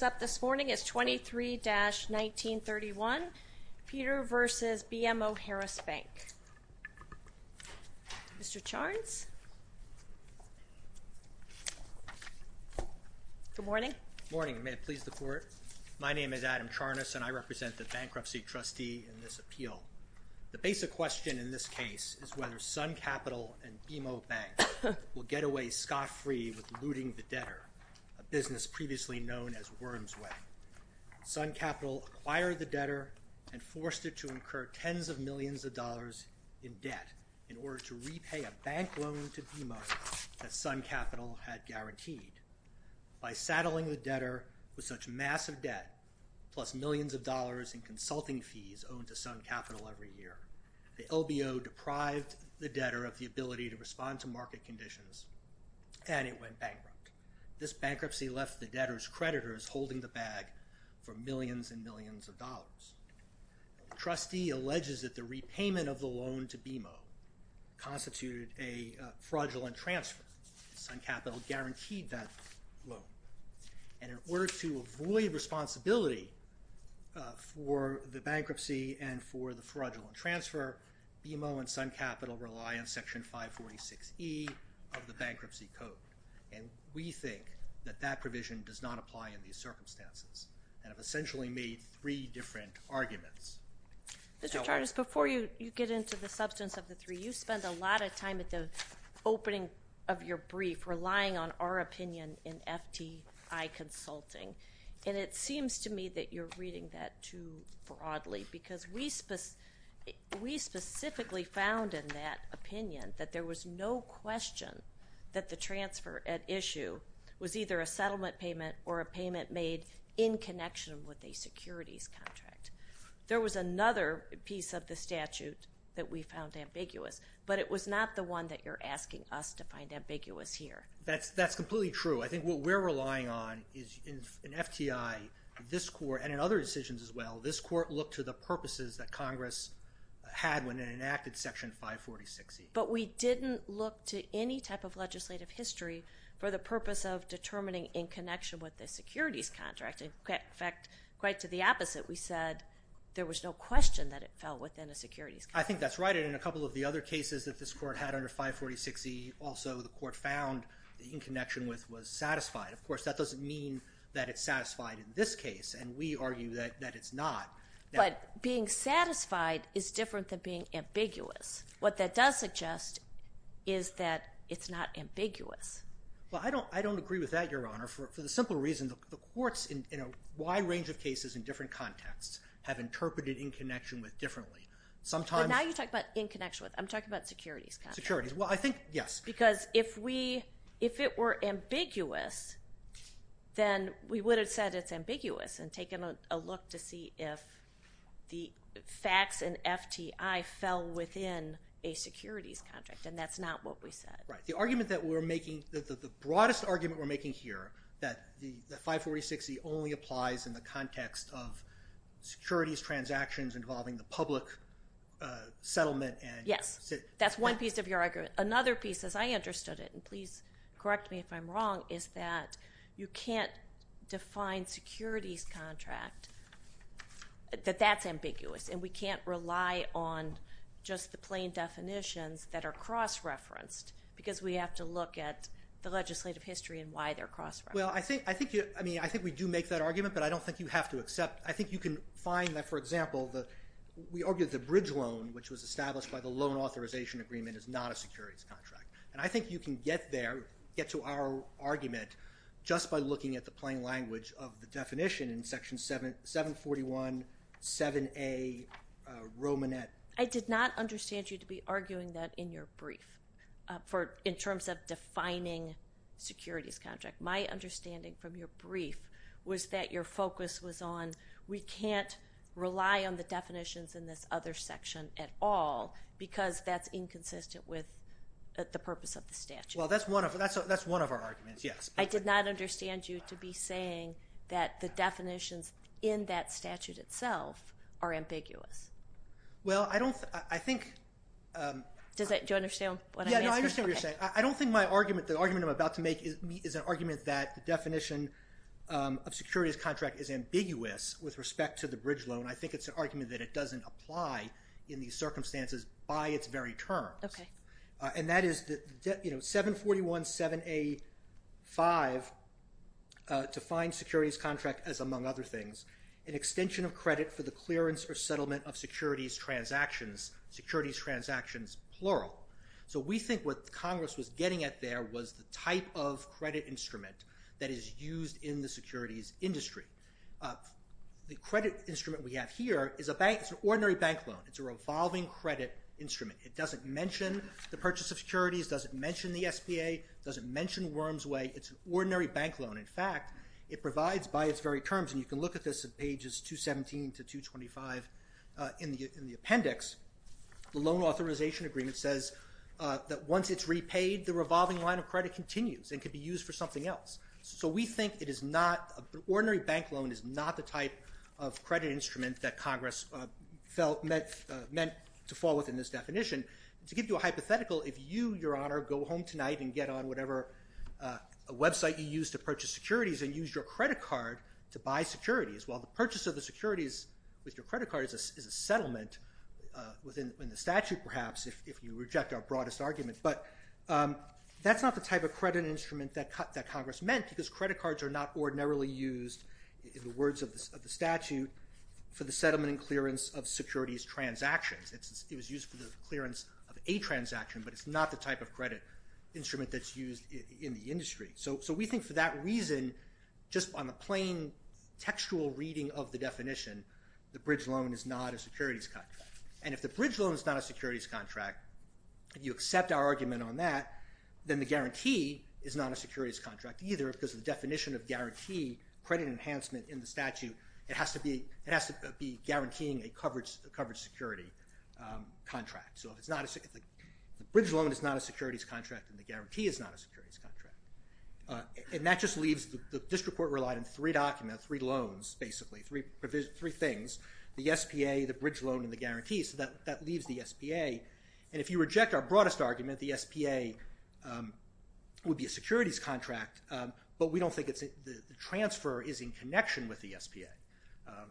up this morning is 23-1931, Petr v. BMO Harris Bank. Mr. Charnes. Good morning. Morning, may it please the court. My name is Adam Charnes and I represent the bankruptcy trustee in this appeal. The basic question in this case is whether Sun Capital and BMO Bank will get away scot-free with looting the debtor, a firm's way. Sun Capital acquired the debtor and forced it to incur tens of millions of dollars in debt in order to repay a bank loan to BMO that Sun Capital had guaranteed. By saddling the debtor with such massive debt, plus millions of dollars in consulting fees owed to Sun Capital every year, the LBO deprived the debtor of the ability to respond to market conditions and it went bag for millions and millions of dollars. The trustee alleges that the repayment of the loan to BMO constituted a fraudulent transfer. Sun Capital guaranteed that loan and in order to avoid responsibility for the bankruptcy and for the fraudulent transfer, BMO and Sun Capital rely on section 546e of the bankruptcy code and we think that that provision does not apply in these circumstances and have essentially made three different arguments. Mr. Tardis, before you you get into the substance of the three, you spend a lot of time at the opening of your brief relying on our opinion in FTI Consulting and it seems to me that you're reading that too broadly because we specifically found in that opinion that there was no question that the transfer at issue was either a in connection with a securities contract. There was another piece of the statute that we found ambiguous but it was not the one that you're asking us to find ambiguous here. That's completely true. I think what we're relying on is in FTI, this court, and in other decisions as well, this court looked to the purposes that Congress had when it enacted section 546e. But we didn't look to any type of legislative history for the purpose of determining in connection with the securities contract. In fact, quite to the opposite, we said there was no question that it fell within a securities contract. I think that's right and in a couple of the other cases that this court had under 546e also the court found the in connection with was satisfied. Of course, that doesn't mean that it's satisfied in this case and we argue that it's not. But being satisfied is different than being ambiguous. What that does suggest is that it's not the reason the courts in a wide range of cases in different contexts have interpreted in connection with differently. Now you talk about in connection with. I'm talking about securities. Well, I think yes. Because if it were ambiguous, then we would have said it's ambiguous and taken a look to see if the facts in FTI fell within a securities contract and that's not what we said. Right. The argument that we're making, the 546e only applies in the context of securities transactions involving the public settlement. Yes, that's one piece of your argument. Another piece, as I understood it, and please correct me if I'm wrong, is that you can't define securities contract, that that's ambiguous and we can't rely on just the plain definitions that are cross-referenced because we have to look at the legislative history and why they're cross-referenced. Well, I think we do make that argument, but I don't think you have to accept. I think you can find that, for example, we argued the bridge loan, which was established by the loan authorization agreement, is not a securities contract. And I think you can get there, get to our argument, just by looking at the plain language of the definition in section 741, 7a, Romanet. I did not understand you to be defining securities contract. My understanding from your brief was that your focus was on we can't rely on the definitions in this other section at all because that's inconsistent with the purpose of the statute. Well, that's one of our arguments, yes. I did not understand you to be saying that the definitions in that statute itself are ambiguous. Well, I don't, I think... Do you understand what I'm saying? Yeah, I understand what you're saying. I don't think my argument, the argument I'm about to make is an argument that the definition of securities contract is ambiguous with respect to the bridge loan. I think it's an argument that it doesn't apply in these circumstances by its very terms. And that is that, you know, 741, 7a, 5 defines securities contract as, among other things, an extension of credit for the clearance or settlement of securities transactions, securities transactions, plural. So we think what Congress was getting at there was the type of credit instrument that is used in the securities industry. The credit instrument we have here is a bank, it's an ordinary bank loan. It's a revolving credit instrument. It doesn't mention the purchase of securities, doesn't mention the SBA, doesn't mention Wormsway. It's an ordinary bank loan. In fact, it provides by its very terms, and you can look at this at pages 217 to 225 in the loan authorization agreement, says that once it's repaid, the revolving line of credit continues and could be used for something else. So we think it is not, an ordinary bank loan is not the type of credit instrument that Congress felt meant to fall within this definition. To give you a hypothetical, if you, Your Honor, go home tonight and get on whatever website you use to purchase securities and use your credit card to buy securities, while the purchase of the bank, perhaps, if you reject our broadest argument, but that's not the type of credit instrument that Congress meant because credit cards are not ordinarily used, in the words of the statute, for the settlement and clearance of securities transactions. It was used for the clearance of a transaction, but it's not the type of credit instrument that's used in the industry. So we think for that reason, just on the plain textual reading of the definition, the bridge loan is not a securities cut. And if the bridge loan is not a securities contract, if you accept our argument on that, then the guarantee is not a securities contract either because the definition of guarantee, credit enhancement in the statute, it has to be, it has to be guaranteeing a coverage security contract. So if it's not, if the bridge loan is not a securities contract, then the guarantee is not a securities contract. And that just leaves, the district court relied on three documents, three loans, basically, three provisions, three things, the SPA, the bridge loan, and the guarantee. So that leaves the SPA. And if you reject our broadest argument, the SPA would be a securities contract, but we don't think it's, the transfer is in connection with the SPA.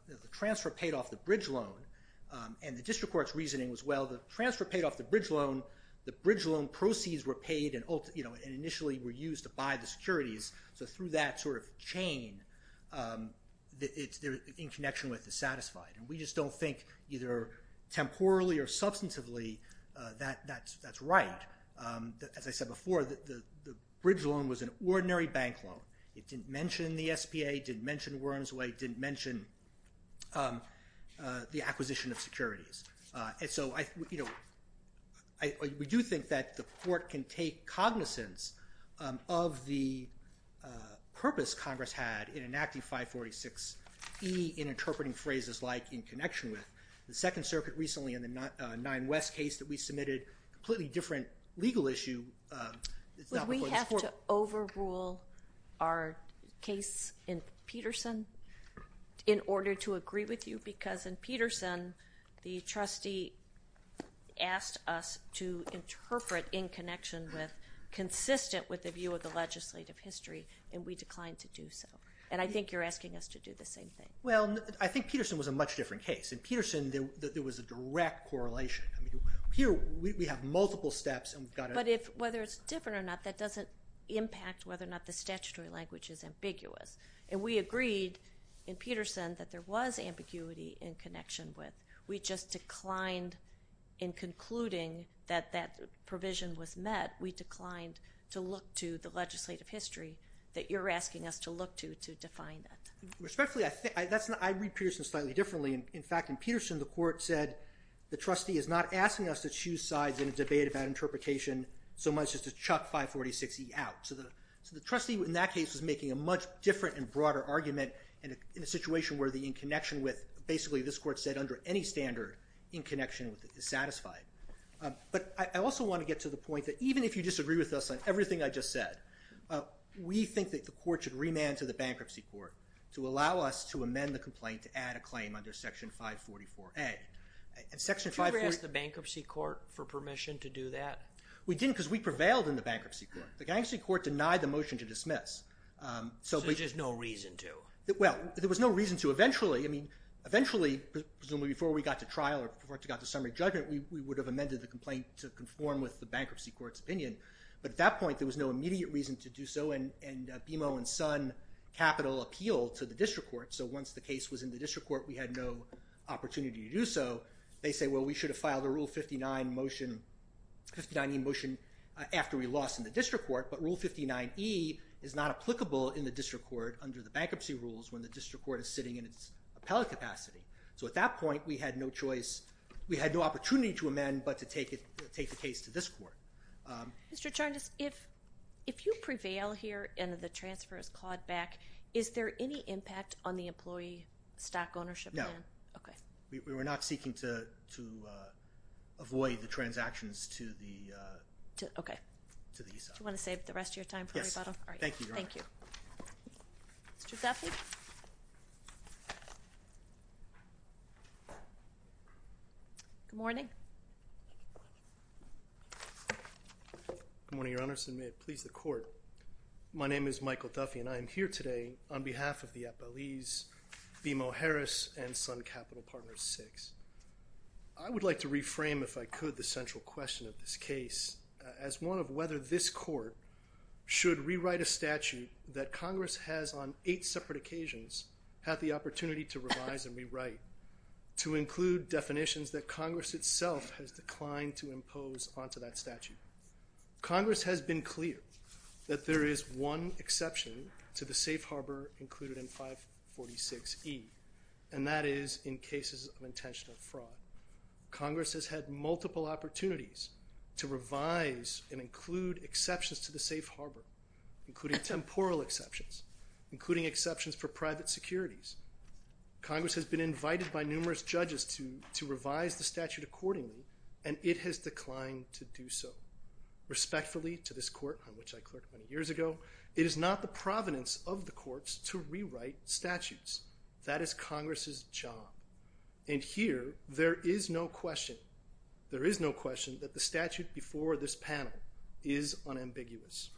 The transfer paid off the bridge loan, and the district court's reasoning was, well, the transfer paid off the bridge loan, the bridge loan proceeds were paid and, you know, initially were used to buy the securities. So through that sort of chain, it's in connection with the satisfied. And we just don't think either temporally or substantively that that's right. As I said before, the bridge loan was an ordinary bank loan. It didn't mention the SPA, didn't mention Wurmsway, didn't mention the acquisition of securities. And so I, you know, we do think that the court can take cognizance of the purpose Congress had in enacting 546E in interpreting phrases like in connection with. The Second Circuit recently in the Nine West case that we submitted, completely different legal issue. Would we have to overrule our case in Peterson in order to agree with you? Because in Peterson, the trustee asked us to interpret in connection with, consistent with the view of the legislative history, and we declined to do so. And I think you're asking us to do the same thing. Well, I think Peterson was a much different case. In Peterson, there was a direct correlation. I mean, here we have multiple steps. But if, whether it's different or not, that doesn't impact whether or not the statutory language is ambiguous. And we agreed in Peterson that there was ambiguity in connection with. We just declined in concluding that that provision was met. We declined to look to the legislative history that you're asking us to look to to define that. Respectfully, I think, that's not, I read Peterson slightly differently. In fact, in Peterson, the court said the trustee is not asking us to choose sides in a debate about interpretation so much as to chuck 546E out. So the, so the trustee in that case was making a much different and broader argument and in a situation where the in connection with, basically this court said under any standard, in connection with it is satisfied. But I also want to get to the point that even if you disagree with us on everything I just said, we think that the court should remand to the Bankruptcy Court to allow us to amend the complaint to add a claim under Section 544A. And Section 544... Did you ever ask the Bankruptcy Court for permission to do that? We didn't because we prevailed in the Bankruptcy Court. The Gangster Court denied the motion to dismiss. So there's just no reason to? Well, there was no reason to. Eventually, I mean, eventually, presumably before we got to trial or before it got to summary judgment, we would have amended the complaint to begin. But at that point, there was no immediate reason to do so and BMO and Sun Capital appealed to the District Court. So once the case was in the District Court, we had no opportunity to do so. They say, well, we should have filed a Rule 59 motion, 59E motion, after we lost in the District Court. But Rule 59E is not applicable in the District Court under the Bankruptcy Rules when the District Court is sitting in its appellate capacity. So at that point, we had no choice, we had no opportunity to amend but to take it, take the case to this court. Mr. Charnas, if if you prevail here and the transfer is clawed back, is there any impact on the employee stock ownership? No. Okay. We were not seeking to to avoid the transactions to the, okay, to the Eastside. Do you want to save the rest of your time for rebuttal? Yes. All right. Thank you. Thank you. Mr. Zaffi? Good morning. Good morning, Your Honors, and may it please the Court. My name is Michael Duffy and I am here today on behalf of the appellees BMO Harris and Sun Capital Partners VI. I would like to reframe, if I could, the central question of this case as one of whether this court should rewrite a statute that had the opportunity to revise and rewrite, to include definitions that Congress itself has declined to impose onto that statute. Congress has been clear that there is one exception to the safe harbor included in 546E, and that is in cases of intentional fraud. Congress has had multiple opportunities to revise and include exceptions to the safe harbor, including temporal exceptions, including exceptions for private securities. Congress has been invited by numerous judges to to revise the statute accordingly, and it has declined to do so. Respectfully to this court, on which I clerked many years ago, it is not the provenance of the courts to rewrite statutes. That is Congress's job, and here there is no question, there is no question that the statute before this panel is unambiguous.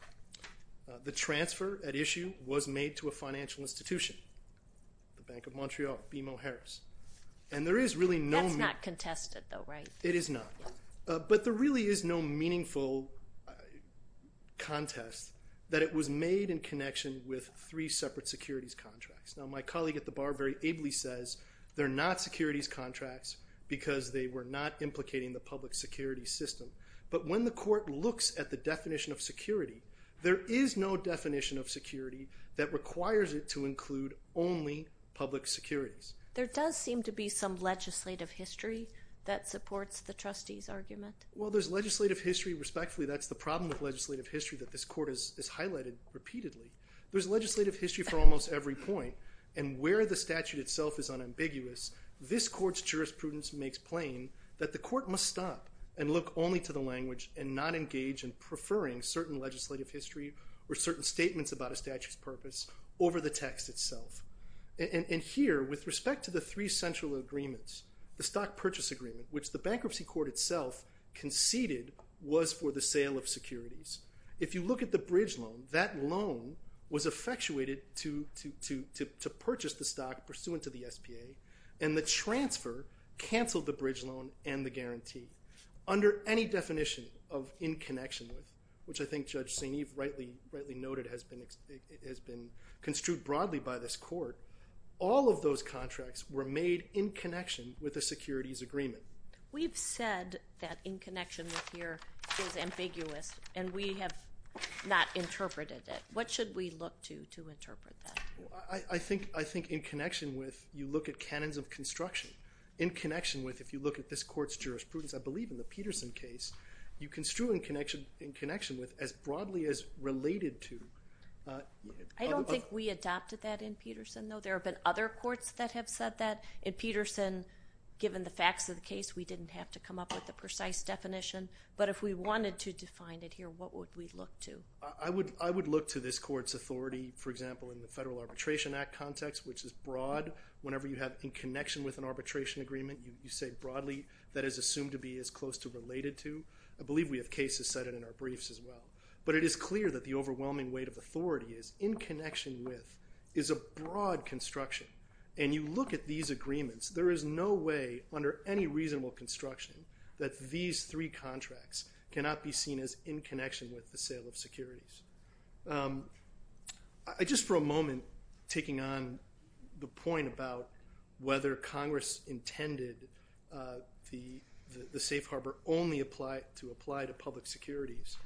The transfer at the time was made to a financial institution, the Bank of Montreal, BMO Harris, and there is really no... That's not contested though, right? It is not, but there really is no meaningful contest that it was made in connection with three separate securities contracts. Now my colleague at the bar very ably says they're not securities contracts because they were not implicating the public security system, but when the court looks at the definition of security, there is no definition of security that requires it to include only public securities. There does seem to be some legislative history that supports the trustees argument. Well there's legislative history, respectfully that's the problem of legislative history that this court has highlighted repeatedly. There's legislative history for almost every point, and where the statute itself is unambiguous, this court's jurisprudence makes plain that the court must stop and look only to the language and not engage in preferring certain legislative history or certain statements about a statute's purpose over the text itself. And here, with respect to the three central agreements, the stock purchase agreement, which the bankruptcy court itself conceded was for the sale of securities, if you look at the bridge loan, that loan was effectuated to purchase the stock pursuant to the SPA, and the transfer canceled the bridge loan and the guarantee under any definition of in connection with, which I rightly noted has been construed broadly by this court, all of those contracts were made in connection with the securities agreement. We've said that in connection with here is ambiguous and we have not interpreted it. What should we look to to interpret that? I think in connection with, you look at canons of construction, in connection with, if you look at this court's jurisprudence, I believe in the Peterson case, you construe in connection with as broadly as related to. I don't think we adopted that in Peterson, though. There have been other courts that have said that. In Peterson, given the facts of the case, we didn't have to come up with a precise definition, but if we wanted to define it here, what would we look to? I would look to this court's authority, for example, in the Federal Arbitration Act context, which is broad. Whenever you have in connection with an arbitration agreement, you say broadly that is assumed to be as close to related to. I it is clear that the overwhelming weight of authority is in connection with is a broad construction and you look at these agreements, there is no way under any reasonable construction that these three contracts cannot be seen as in connection with the sale of securities. Just for a moment, taking on the point about whether Congress intended the safe harbor only apply to apply to public securities,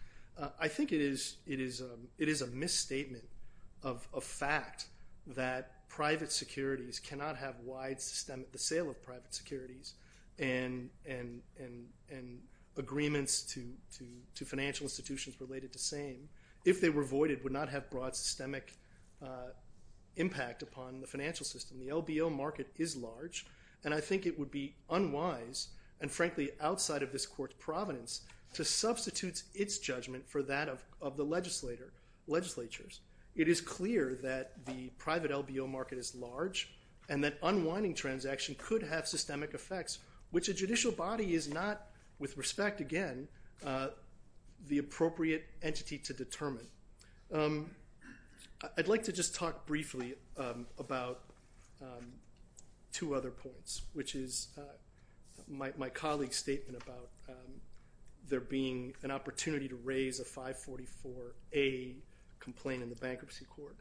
I think it is a misstatement of a fact that private securities cannot have wide systemic, the sale of private securities, and agreements to financial institutions related to same, if they were voided, would not have broad systemic impact upon the financial system. The LBO market is large, and I think it would be unwise, and frankly outside of this court's covenants, to substitute its judgment for that of the legislator, legislatures. It is clear that the private LBO market is large, and that unwinding transaction could have systemic effects, which a judicial body is not, with respect again, the appropriate entity to determine. I'd like to just talk briefly about two other points, which is my colleague's statement about there being an opportunity to raise a 544A complaint in the bankruptcy court.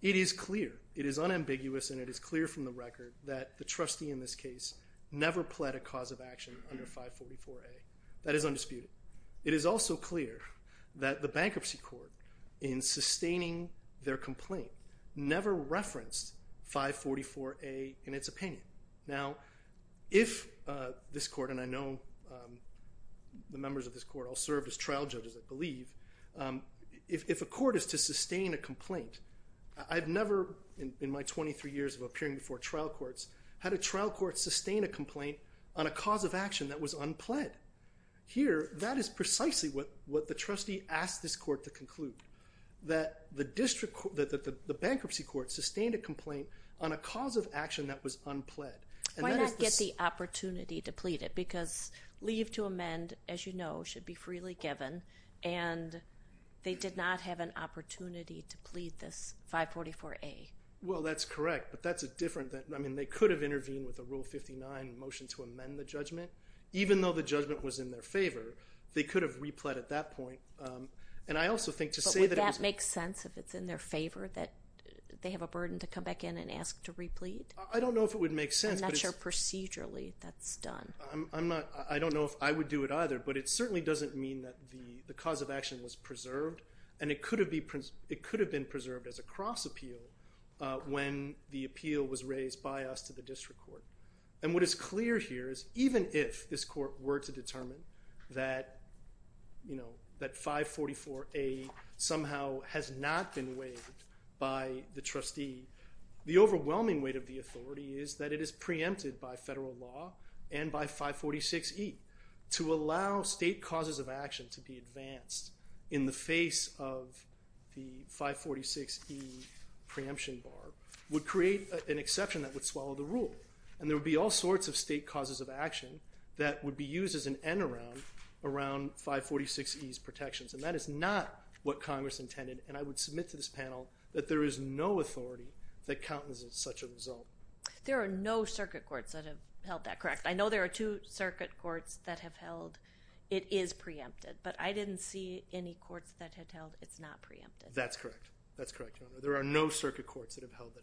It is clear, it is unambiguous, and it is clear from the record that the trustee in this case never pled a cause of action under 544A. That is undisputed. It is also clear that the bankruptcy court, in sustaining their complaint, never referenced 544A in its opinion. Now, if this court, and I know the members of this court all served as trial judges, I believe, if a court is to sustain a complaint, I've never, in my 23 years of appearing before trial courts, had a trial court sustain a complaint on a cause of action that was unpled. Here, that is precisely what the trustee asked this court to conclude, that the bankruptcy court sustained a complaint on a cause of action that was unpled. Why not get the opportunity to plead it? Because leave to amend, as you know, should be freely given, and they did not have an opportunity to plead this 544A. Well, that's correct, but that's a different thing. I mean, they could have intervened with a Rule 59 motion to amend the judgment, even though the judgment was in their favor. They could have repled at that point, and I also think to say that... But would that make sense if it's in their favor that they have a burden to come back in and ask to replead? I don't know if it would make sense. I'm not sure procedurally that's done. I'm not, I don't know if I would do it either, but it certainly doesn't mean that the cause of action was preserved, and it could have been preserved as a cross appeal when the appeal was raised by us to the district court. And what is clear here is, even if this court were to determine that, you know, it's been waived by the trustee, the overwhelming weight of the authority is that it is preempted by federal law and by 546E. To allow state causes of action to be advanced in the face of the 546E preemption bar would create an exception that would swallow the rule, and there would be all sorts of state causes of action that would be used as an end-around around 546E's I would submit to this panel that there is no authority that countenances such a result. There are no circuit courts that have held that correct. I know there are two circuit courts that have held it is preempted, but I didn't see any courts that had held it's not preempted. That's correct, that's correct. There are no circuit courts that have held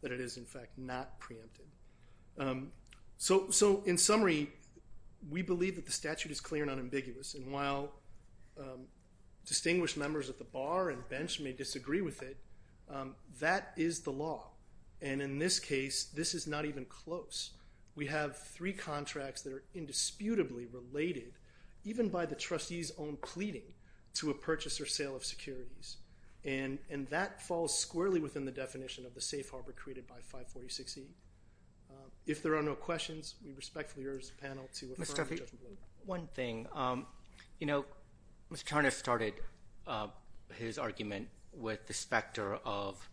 that it is in fact not preempted. So in summary, we believe that the statute is clear and unambiguous, and while distinguished members of the bar and bench may disagree with it, that is the law. And in this case, this is not even close. We have three contracts that are indisputably related, even by the trustee's own pleading, to a purchase or sale of securities, and that falls squarely within the definition of the safe harbor created by 546E. If there are no questions, we respectfully urge this panel to refer to the judgment. One thing, you know, Mr. Tarnas started his argument with the specter of,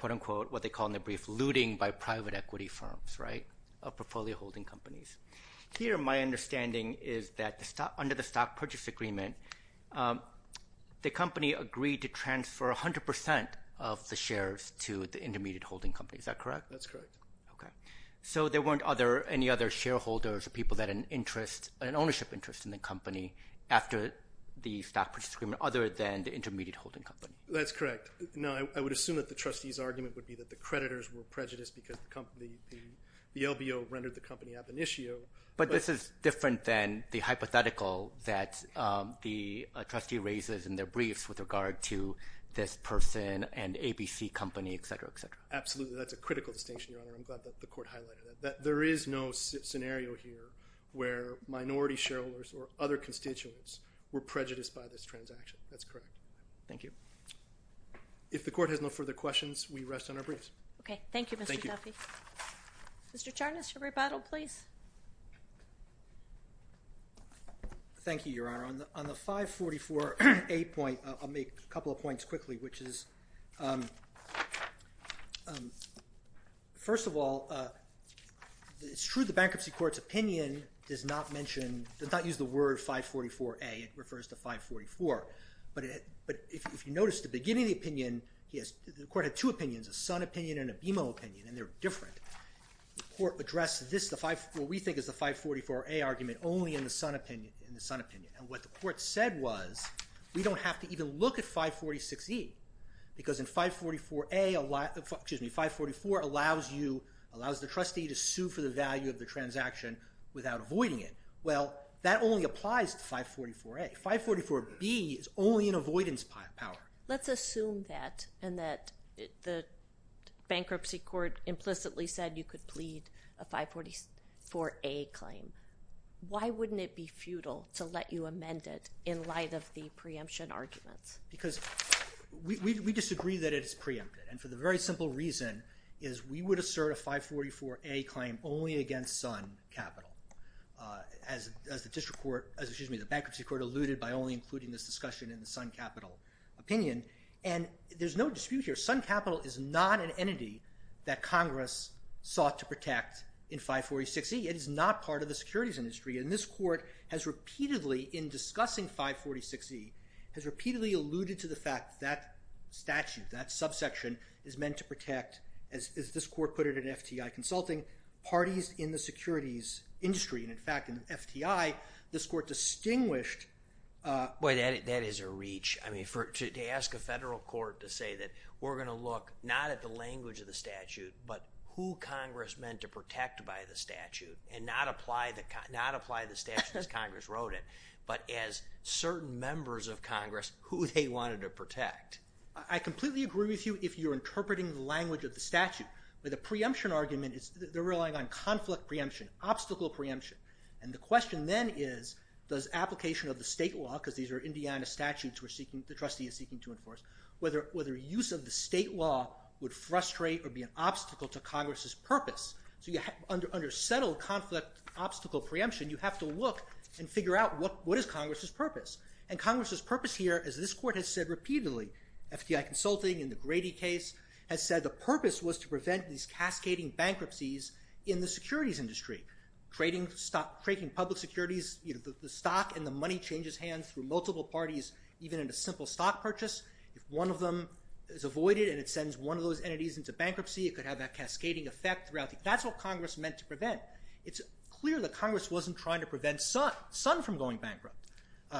quote unquote, what they call in the brief, looting by private equity firms, right, of portfolio holding companies. Here, my understanding is that under the stock purchase agreement, the company agreed to transfer a hundred percent of the shares to the intermediate holding company. Is that correct? That's correct. Okay. So there weren't other, any other shareholders or people that an interest, an ownership interest in the company after the stock purchase agreement, other than the intermediate holding company? That's correct. No, I would assume that the trustee's argument would be that the creditors were prejudiced because the company, the LBO rendered the company ab initio. But this is different than the hypothetical that the trustee raises in their briefs with regard to this person and ABC company, et cetera, et cetera. Absolutely. That's a critical distinction, Your Honor. I'm glad that the court highlighted that there is no scenario here where minority shareholders or other constituents were prejudiced by this transaction. That's correct. Thank you. If the court has no further questions, we rest on our briefs. Okay. Thank you, Mr. Duffy. Mr. Tarnas, your rebuttal, please. Thank you, Your Honor. On the 544A point, I'll make a couple of comments quickly, which is, first of all, it's true the bankruptcy court's opinion does not mention, does not use the word 544A. It refers to 544. But if you notice at the beginning of the opinion, the court had two opinions, a Sun opinion and a BMO opinion, and they're different. The court addressed this, what we think is the 544A argument, only in the Sun opinion. And what the court said was, we don't have to even look at 546E, because in 544A, excuse me, 544 allows you, allows the trustee to sue for the value of the transaction without avoiding it. Well, that only applies to 544A. 544B is only an avoidance power. Let's assume that, and that the bankruptcy court implicitly said you could plead a 544A claim. Why wouldn't it be futile to let you amend it in light of the preemption arguments? Because we disagree that it's preempted, and for the very simple reason is, we would assert a 544A claim only against Sun Capital, as the district court, excuse me, the bankruptcy court alluded by only including this discussion in the Sun Capital opinion. And there's no dispute here. Sun Capital is not an entity that Congress sought to protect in 546E. It is not part of the securities industry, and this court has repeatedly, in discussing 546E, has repeatedly alluded to the fact that statute, that subsection, is meant to protect, as this court put it in FTI Consulting, parties in the securities industry. And in fact, in FTI, this court distinguished... Boy, that is a reach. I mean, to ask a federal court to say that we're going to look not at the language of the statute, but who Congress meant to protect by the statute, and not apply the statute as Congress wrote it, but as certain members of Congress, who they wanted to protect. I completely agree with you if you're interpreting the language of the statute. In fact, with the preemption argument, they're relying on conflict preemption, obstacle preemption. And the question then is, does application of the state law, because these are Indiana statutes the trustee is seeking to enforce, whether use of the state law would frustrate or be an obstacle to Congress's purpose. So under settled conflict obstacle preemption, you have to look and figure out what is Congress's purpose. And Congress's purpose here, as this court has said repeatedly, FTI Consulting in the Grady case, has said the purpose was to prevent these cascading bankruptcies in the securities industry. Trading public securities, the stock and the money changes hands through multiple parties, even in a simple stock purchase. If one of them is avoided and it sends one of those entities into bankruptcy, it could have that cascading effect throughout the... That's what Congress meant to prevent. It's clear that Congress wasn't trying to prevent Sun from going bankrupt.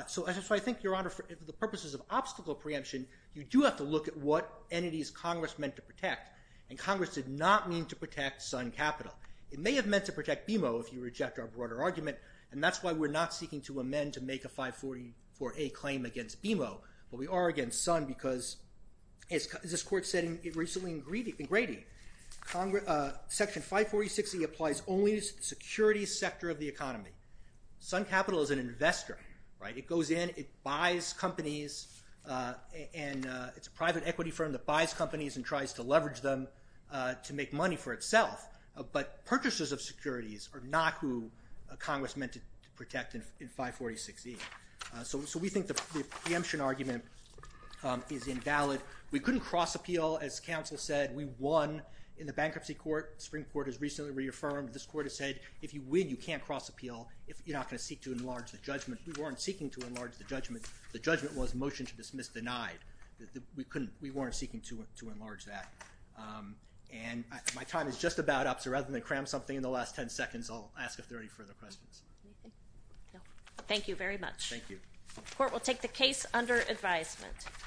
So I think, Your Honor, for the purposes of obstacle preemption, you do have to look at what entities Congress meant to protect. And Congress did not mean to protect Sun Capital. It may have meant to protect BMO, if you reject our broader argument, and that's why we're not seeking to amend to make a 544A claim against BMO. But we are against Sun because, as this court said recently in Grady, Section 546E applies only to the securities sector of the economy. Sun Capital is an investor. It goes in, it buys companies, and it's a private equity firm that buys companies and tries to leverage them to make money for itself. But purchasers of securities are not who Congress meant to protect in 546E. So we think the preemption argument is invalid. We couldn't cross-appeal. As counsel said, we won in the bankruptcy court. The Supreme Court has recently reaffirmed. This court has said, if you win, you can't cross-appeal. You're not going to seek to enlarge the judgment. We weren't seeking to enlarge the judgment. The judgment was motion to dismiss denied. We weren't seeking to enlarge that. And my time is just about up, so rather than cram something in the last 10 seconds, I'll ask if there are any further questions. Thank you very much. Thank you. The court will take the case under advisement.